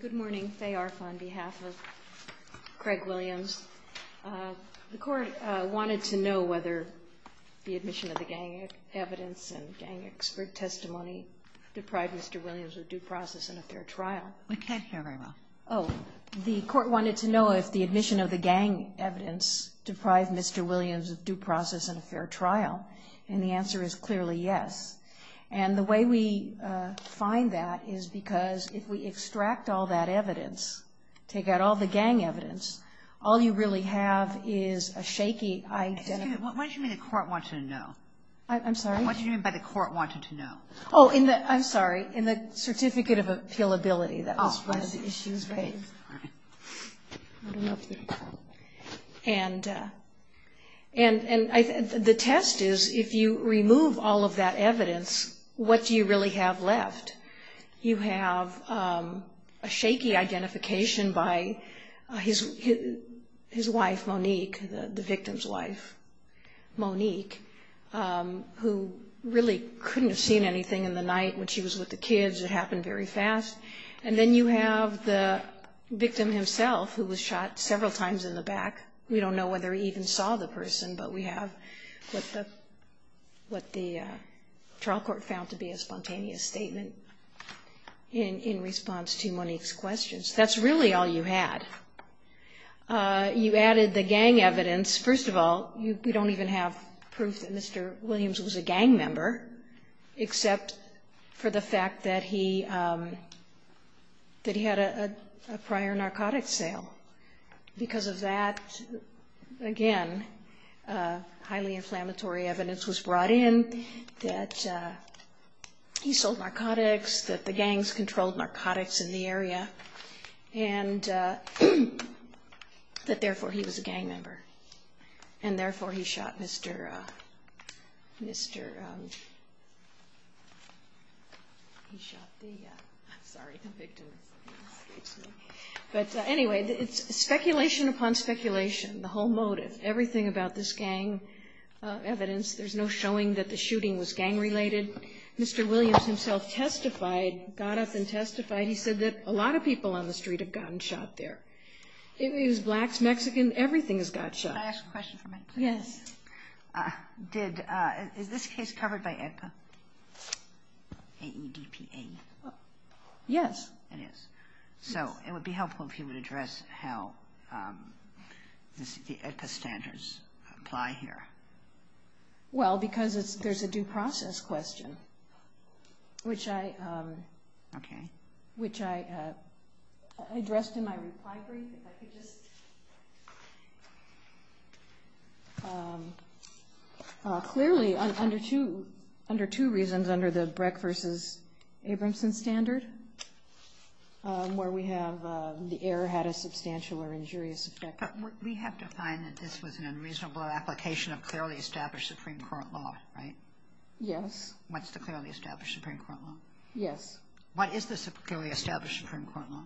Good morning. Faye Arf on behalf of Craig Williams. The Court wanted to know whether the admission of the gang evidence and gang expert testimony deprived Mr. Williams of due process and a fair trial. We can't hear very well. Oh. The Court wanted to know if the admission of the gang evidence deprived Mr. Williams of due process and a fair trial, and the answer is clearly yes. And the way we find that is because if we extract all that evidence, take out all the gang evidence, all you really have is a shaky identity. Excuse me. What did you mean by the Court wanted to know? I'm sorry? What did you mean by the Court wanted to know? Oh, I'm sorry. In the certificate of appealability. Oh, I'm sorry. And the test is if you remove all of that evidence, what do you really have left? You have a shaky identification by his wife, Monique, the victim's wife, Monique, who really couldn't have seen anything in the night when she was with the kids. It happened very fast. And then you have the victim himself who was shot several times in the back. We don't know whether he even saw the person, but we have what the trial court found to be a spontaneous statement in response to Monique's questions. That's really all you had. You added the gang evidence. First of all, we don't even have proof that Mr. Williams was a gang member except for the fact that he had a prior narcotics sale. Because of that, again, highly inflammatory evidence was brought in that he sold narcotics, that the gangs controlled narcotics in the area, and that therefore he was a gang member. And anyway, it's speculation upon speculation, the whole motive, everything about this gang evidence. There's no showing that the shooting was gang-related. Mr. Williams himself testified, got up and testified. He said that a lot of people on the street have gotten shot there. Blacks, Mexicans, everything has got shot. Can I ask a question for a minute? Yes. Is this case covered by EDPA? A-E-D-P-A-E? Yes. It is. So it would be helpful if you would address how the EDPA standards apply here. Well, because there's a due process question, which I addressed in my reply brief. Clearly, under two reasons, under the Breck v. Abramson standard, where we have the error had a substantial or injurious effect. We have to find that this was an unreasonable application of clearly established Supreme Court law, right? Yes. What's the clearly established Supreme Court law? Yes. What is the clearly established Supreme Court law?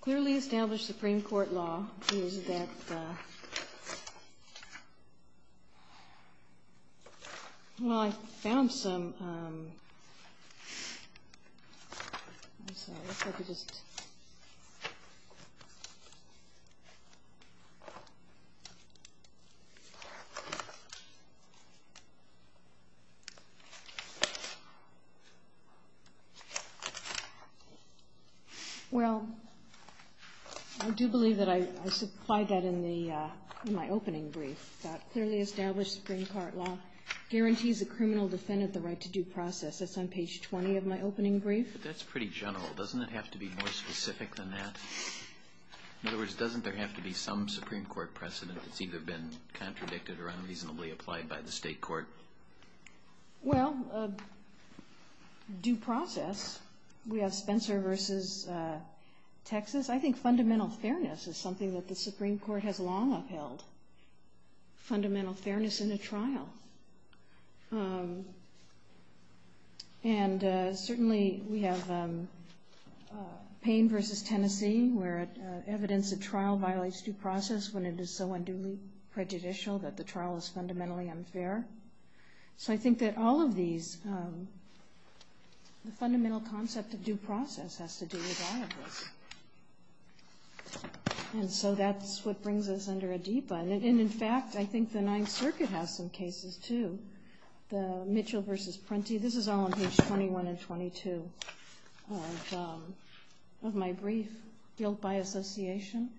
Clearly established Supreme Court law is that, well, I found some. Well, I do believe that I supplied that in my opening brief. Clearly established Supreme Court law guarantees a criminal defendant the right to due process. That's on page 20 of my opening brief. That's pretty general. Doesn't it have to be more specific than that? In other words, doesn't there have to be some Supreme Court precedent that's either been contradicted or unreasonably applied by the state court? Well, due process. We have Spencer v. Texas. I think fundamental fairness is something that the Supreme Court has long upheld, fundamental fairness in a trial. And certainly we have Payne v. Tennessee, where evidence at trial violates due process when it is so unduly prejudicial that the trial is fundamentally unfair. So I think that all of these, the fundamental concept of due process has to do with all of this. And so that's what brings us under Adipa. And in fact, I think the Ninth Circuit has some cases, too. Mitchell v. Prenti. This is all on page 21 and 22 of my brief, built by association.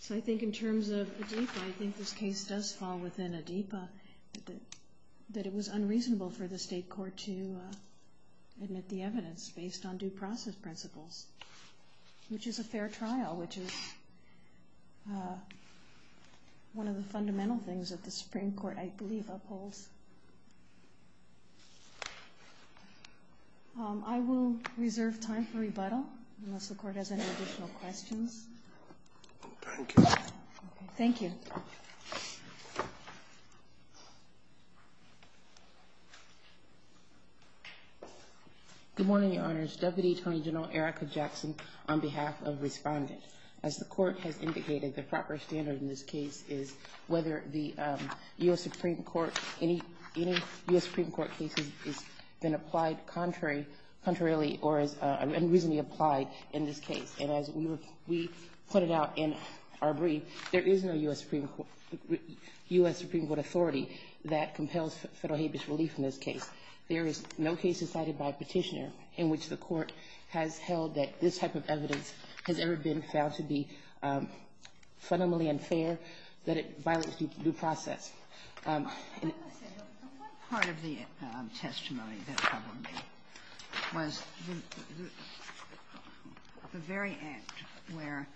So I think in terms of Adipa, I think this case does fall within Adipa, that it was unreasonable for the state court to admit the evidence based on due process principles, which is a fair thing that the Supreme Court, I believe, upholds. I will reserve time for rebuttal, unless the Court has any additional questions. Thank you. Thank you. Good morning, Your Honors. Deputy Attorney General Erica Jackson on behalf of Respondent. As the Court has indicated, the proper standard in this case is whether the U.S. Supreme Court, any U.S. Supreme Court case has been applied contrary, contrarily or is unreasonably applied in this case. And as we put it out in our brief, there is no U.S. Supreme Court authority that compels federal habeas relief in this case. There is no case decided by a petitioner in which the Court has held that this type of trial should be fundamentally unfair, that it violates due process. Can I just say, one part of the testimony that troubled me was the very act where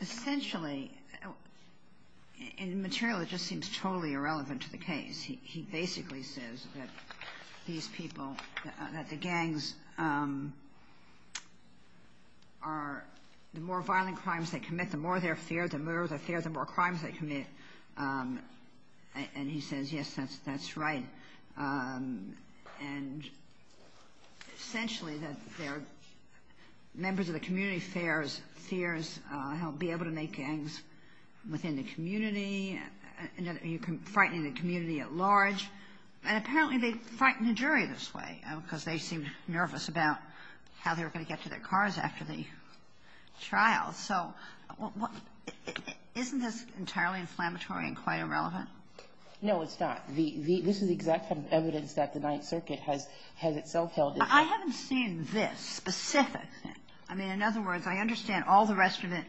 essentially in material it just seems totally irrelevant to the case. He basically says that these people, that the gangs are, the more violent crimes they commit, the more they're feared, the more they're feared, the more crimes they commit. And he says, yes, that's right. And essentially that they're members of the community fears how to be able to make gangs within the community, frightening the community at large. And apparently they frighten the jury this way because they seemed nervous about how they were going to get to their cars after the trial. So isn't this entirely inflammatory and quite irrelevant? No, it's not. This is the exact evidence that the Ninth Circuit has itself held. I haven't seen this specific thing. I mean, in other words, I understand all the rest of it,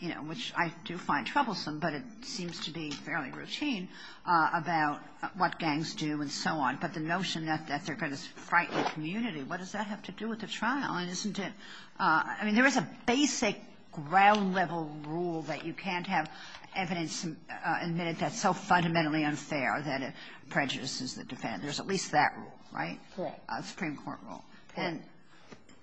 you know, which I do find troublesome, but it seems to be fairly routine about what gangs do and so on. But the notion that they're going to frighten the community, what does that have to do with the trial? And isn't it – I mean, there is a basic ground-level rule that you can't have evidence admit that's so fundamentally unfair that it prejudices the defendant. There's at least that rule, right? Yes. A Supreme Court rule. Yes.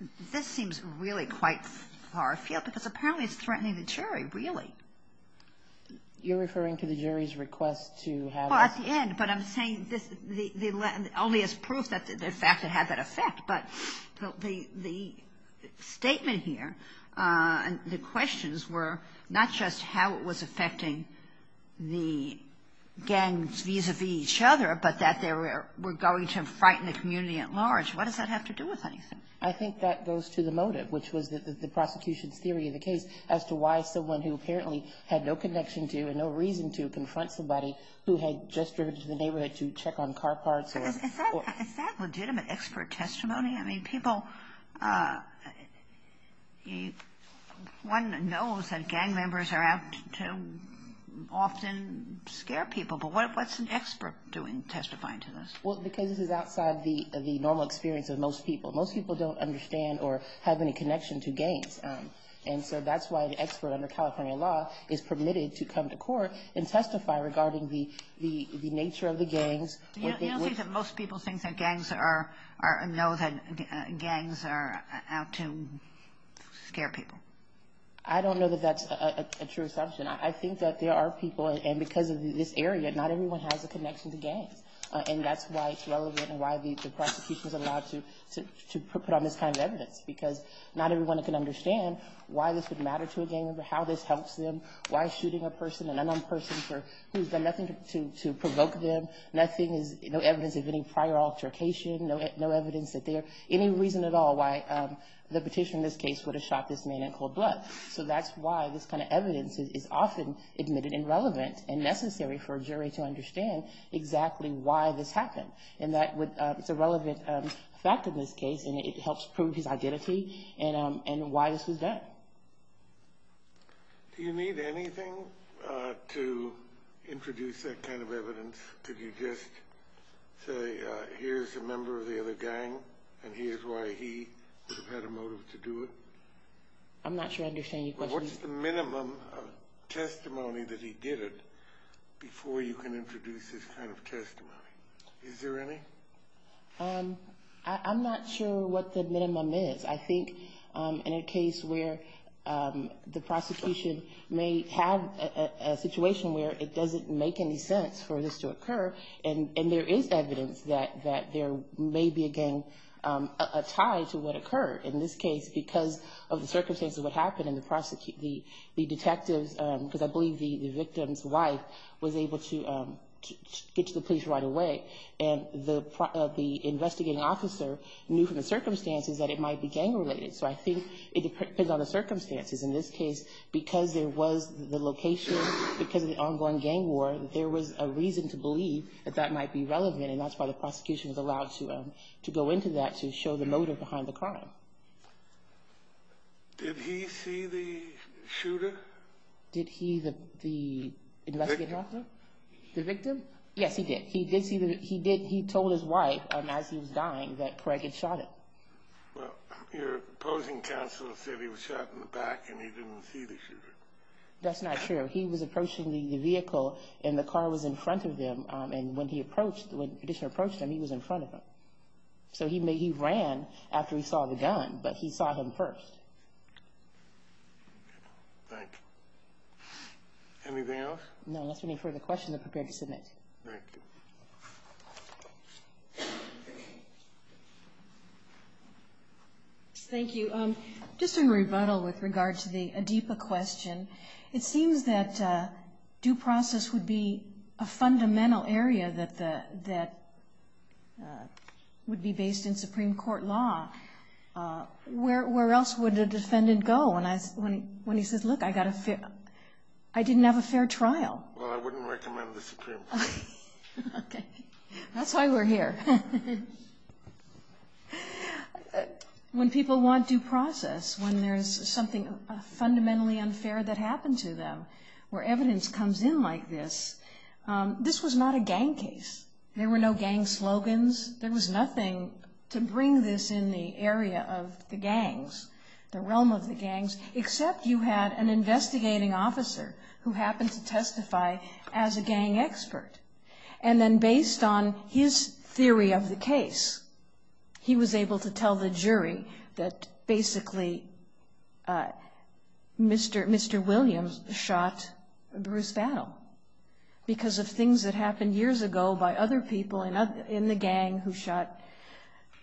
And this seems really quite far afield because apparently it's threatening the jury, really. You're referring to the jury's request to have it – Well, at the end, but I'm saying this – only as proof that the fact that it had that effect. But the statement here, the questions were not just how it was affecting the gangs vis-a-vis each other, but that they were going to frighten the community at large. What does that have to do with anything? I think that goes to the motive, which was the prosecution's theory of the case as to why someone who apparently had no connection to and no reason to confront somebody who had just driven into the neighborhood to check on car parts or – Is that legitimate expert testimony? I mean, people – one knows that gang members are out to often scare people, but what's an expert doing, testifying to this? Well, because this is outside the normal experience of most people. Most people don't understand or have any connection to gangs, and so that's why the expert under California law is permitted to come to court and testify regarding the nature of the gangs. You don't think that most people think that gangs are – know that gangs are out to scare people? I don't know that that's a true assumption. I think that there are people – and because of this area, not everyone has a connection to gangs, and that's why it's relevant and why the prosecution is allowed to put on this kind of evidence, because not everyone can understand why this would matter to a gang member, how this helps them, why shooting a person, an unknown person who's done nothing to provoke them, nothing is – no evidence of any prior altercation, no evidence that there – any reason at all why the petitioner in this case would have shot this man in cold blood. So that's why this kind of evidence is often admitted and relevant and necessary for a this happened, and that would – it's a relevant fact in this case, and it helps prove his identity and why this was done. Do you need anything to introduce that kind of evidence? Could you just say, here's a member of the other gang, and here's why he would have had a motive to do it? I'm not sure I understand your question. What's the minimum of testimony that he did it before you can introduce this kind of testimony? Is there any? I'm not sure what the minimum is. I think in a case where the prosecution may have a situation where it doesn't make any sense for this to occur, and there is evidence that there may be, again, a tie to what occurred. In this case, because of the circumstances of what happened, and the detectives – because I believe the victim's wife was able to get to the police right away, and the investigating officer knew from the circumstances that it might be gang-related. So I think it depends on the circumstances. In this case, because there was the location, because of the ongoing gang war, there was a reason to believe that that might be relevant, and that's why the prosecution was allowed to go into that to show the motive behind the crime. Did he see the shooter? Did he, the investigating officer? The victim. The victim? Yes, he did. He did see the – he told his wife, as he was dying, that Craig had shot him. Well, your opposing counsel said he was shot in the back and he didn't see the shooter. That's not true. He was approaching the vehicle, and the car was in front of him, and when he approached him, he was in front of him. So he ran after he saw the gun, but he saw him first. Thank you. Anything else? No, unless there are any further questions, I'm prepared to submit. Thank you. Thank you. Just in rebuttal with regard to the Adipa question, it seems that due process would be a fundamental area that would be based in Supreme Court law. Where else would a defendant go when he says, look, I didn't have a fair trial? Well, I wouldn't recommend the Supreme Court. Okay. That's why we're here. When people want due process, when there's something fundamentally unfair that happened to them, where evidence comes in like this, this was not a gang case. There were no gang slogans. There was nothing to bring this in the area of the gangs, the realm of the gangs, except you had an investigating officer who happened to testify as a gang expert. And then based on his theory of the case, he was able to tell the jury that basically Mr. Williams shot Bruce Battle because of things that happened years ago by other people in the gang who shot,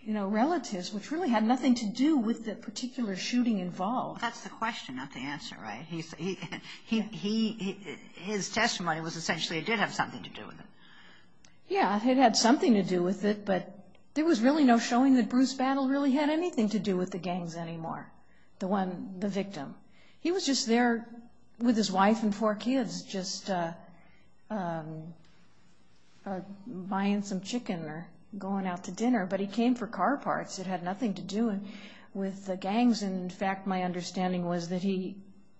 you know, relatives, which really had nothing to do with the particular shooting involved. That's the question, not the answer, right? His testimony was essentially it did have something to do with it. Yeah, it had something to do with it, but there was really no showing that Bruce Battle really had anything to do with the gangs anymore, the victim. He was just there with his wife and four kids just buying some chicken or going out to dinner, but he came for car parts. It had nothing to do with the gangs. In fact, my understanding was that he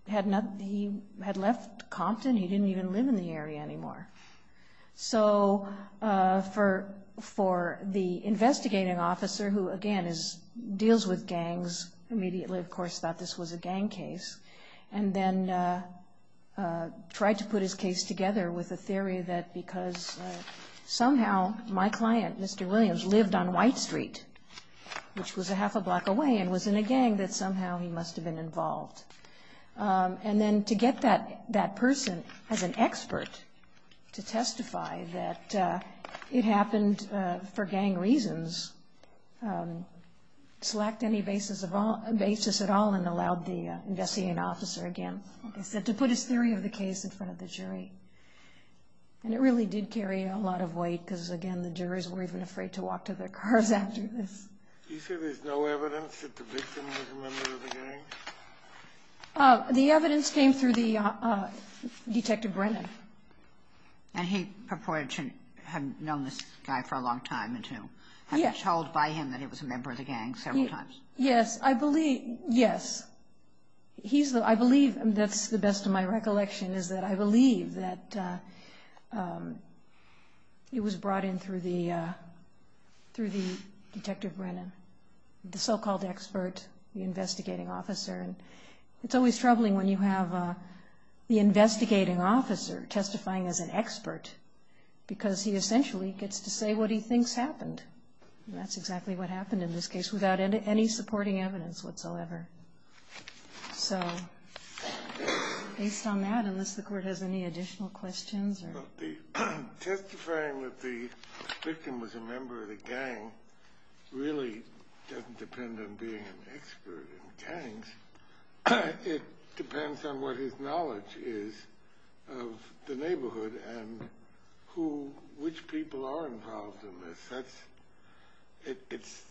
had left Compton. He didn't even live in the area anymore. So for the investigating officer who, again, deals with gangs immediately, of course, thought this was a gang case and then tried to put his case together with a theory that because somehow my client, Mr. Williams, lived on White Street, which was a half a block away and was in a gang, that somehow he must have been involved. And then to get that person as an expert to testify that it happened for gang reasons, lacked any basis at all and allowed the investigating officer, again, to put his theory of the case in front of the jury. And it really did carry a lot of weight because, again, the juries were even afraid to walk to their cars after this. You said there's no evidence that the victim was a member of the gang? The evidence came through Detective Brennan. And he purported to have known this guy for a long time and to have been told by him that he was a member of the gang several times? Yes. I believe, yes. I believe, and that's the best of my recollection, is that I believe that it was brought in through the Detective Brennan, the so-called expert, the investigating officer. And it's always troubling when you have the investigating officer testifying as an expert because he essentially gets to say what he thinks happened. And that's exactly what happened in this case without any supporting evidence whatsoever. So based on that, unless the court has any additional questions. Testifying that the victim was a member of the gang really doesn't depend on being an expert in gangs. It depends on what his knowledge is of the neighborhood and which people are involved in this. It's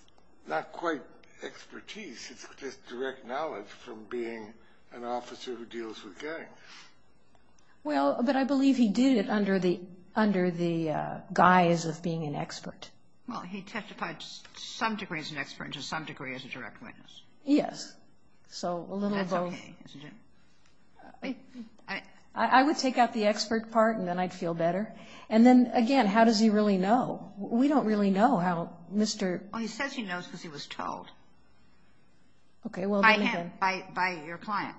not quite expertise. It's just direct knowledge from being an officer who deals with gangs. Well, but I believe he did it under the guise of being an expert. Well, he testified to some degree as an expert and to some degree as a direct witness. Yes. That's okay, isn't it? I would take out the expert part and then I'd feel better. And then, again, how does he really know? We don't really know how Mr. Well, he says he knows because he was told. Okay, well, then again. By him, by your client.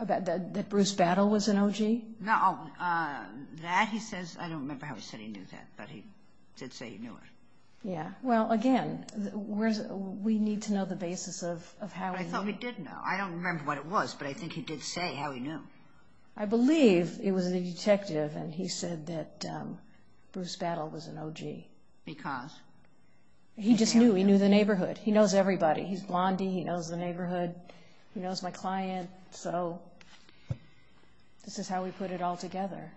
That Bruce Battle was an OG? No, that he says, I don't remember how he said he knew that, but he did say he knew it. Yeah, well, again, we need to know the basis of how he knew. But I thought he did know. I believe it was the detective and he said that Bruce Battle was an OG. Because? He just knew. He knew the neighborhood. He knows everybody. He's blondie. He knows the neighborhood. He knows my client. So this is how we put it all together.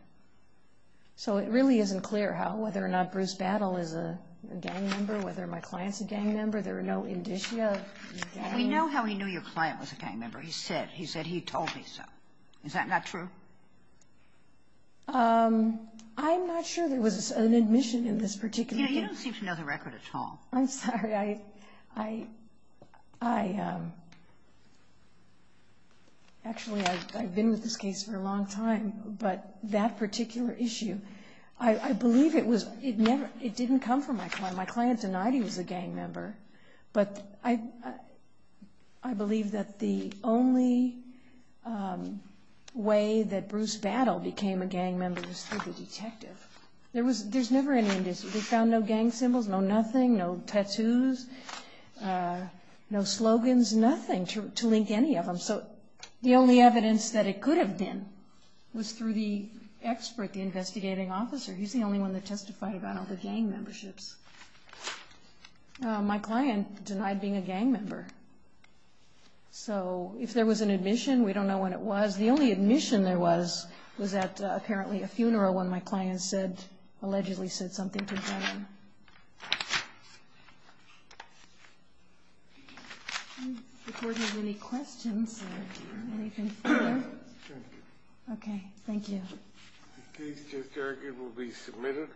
So it really isn't clear whether or not Bruce Battle is a gang member, whether my client's a gang member. There are no indicia. We know how he knew your client was a gang member. He said he told me so. Is that not true? I'm not sure there was an admission in this particular case. Yeah, you don't seem to know the record at all. I'm sorry. Actually, I've been with this case for a long time. But that particular issue, I believe it didn't come from my client. My client denied he was a gang member. But I believe that the only way that Bruce Battle became a gang member was through the detective. There's never any indicia. We found no gang symbols, no nothing, no tattoos, no slogans, nothing to link any of them. So the only evidence that it could have been was through the expert, the investigating officer. He's the only one that testified about all the gang memberships. My client denied being a gang member. So if there was an admission, we don't know when it was. The only admission there was was at apparently a funeral when my client allegedly said something to John. I'm not recording any questions. Anything further? Thank you. Okay. Thank you. The case, Judge Jargon, will be submitted.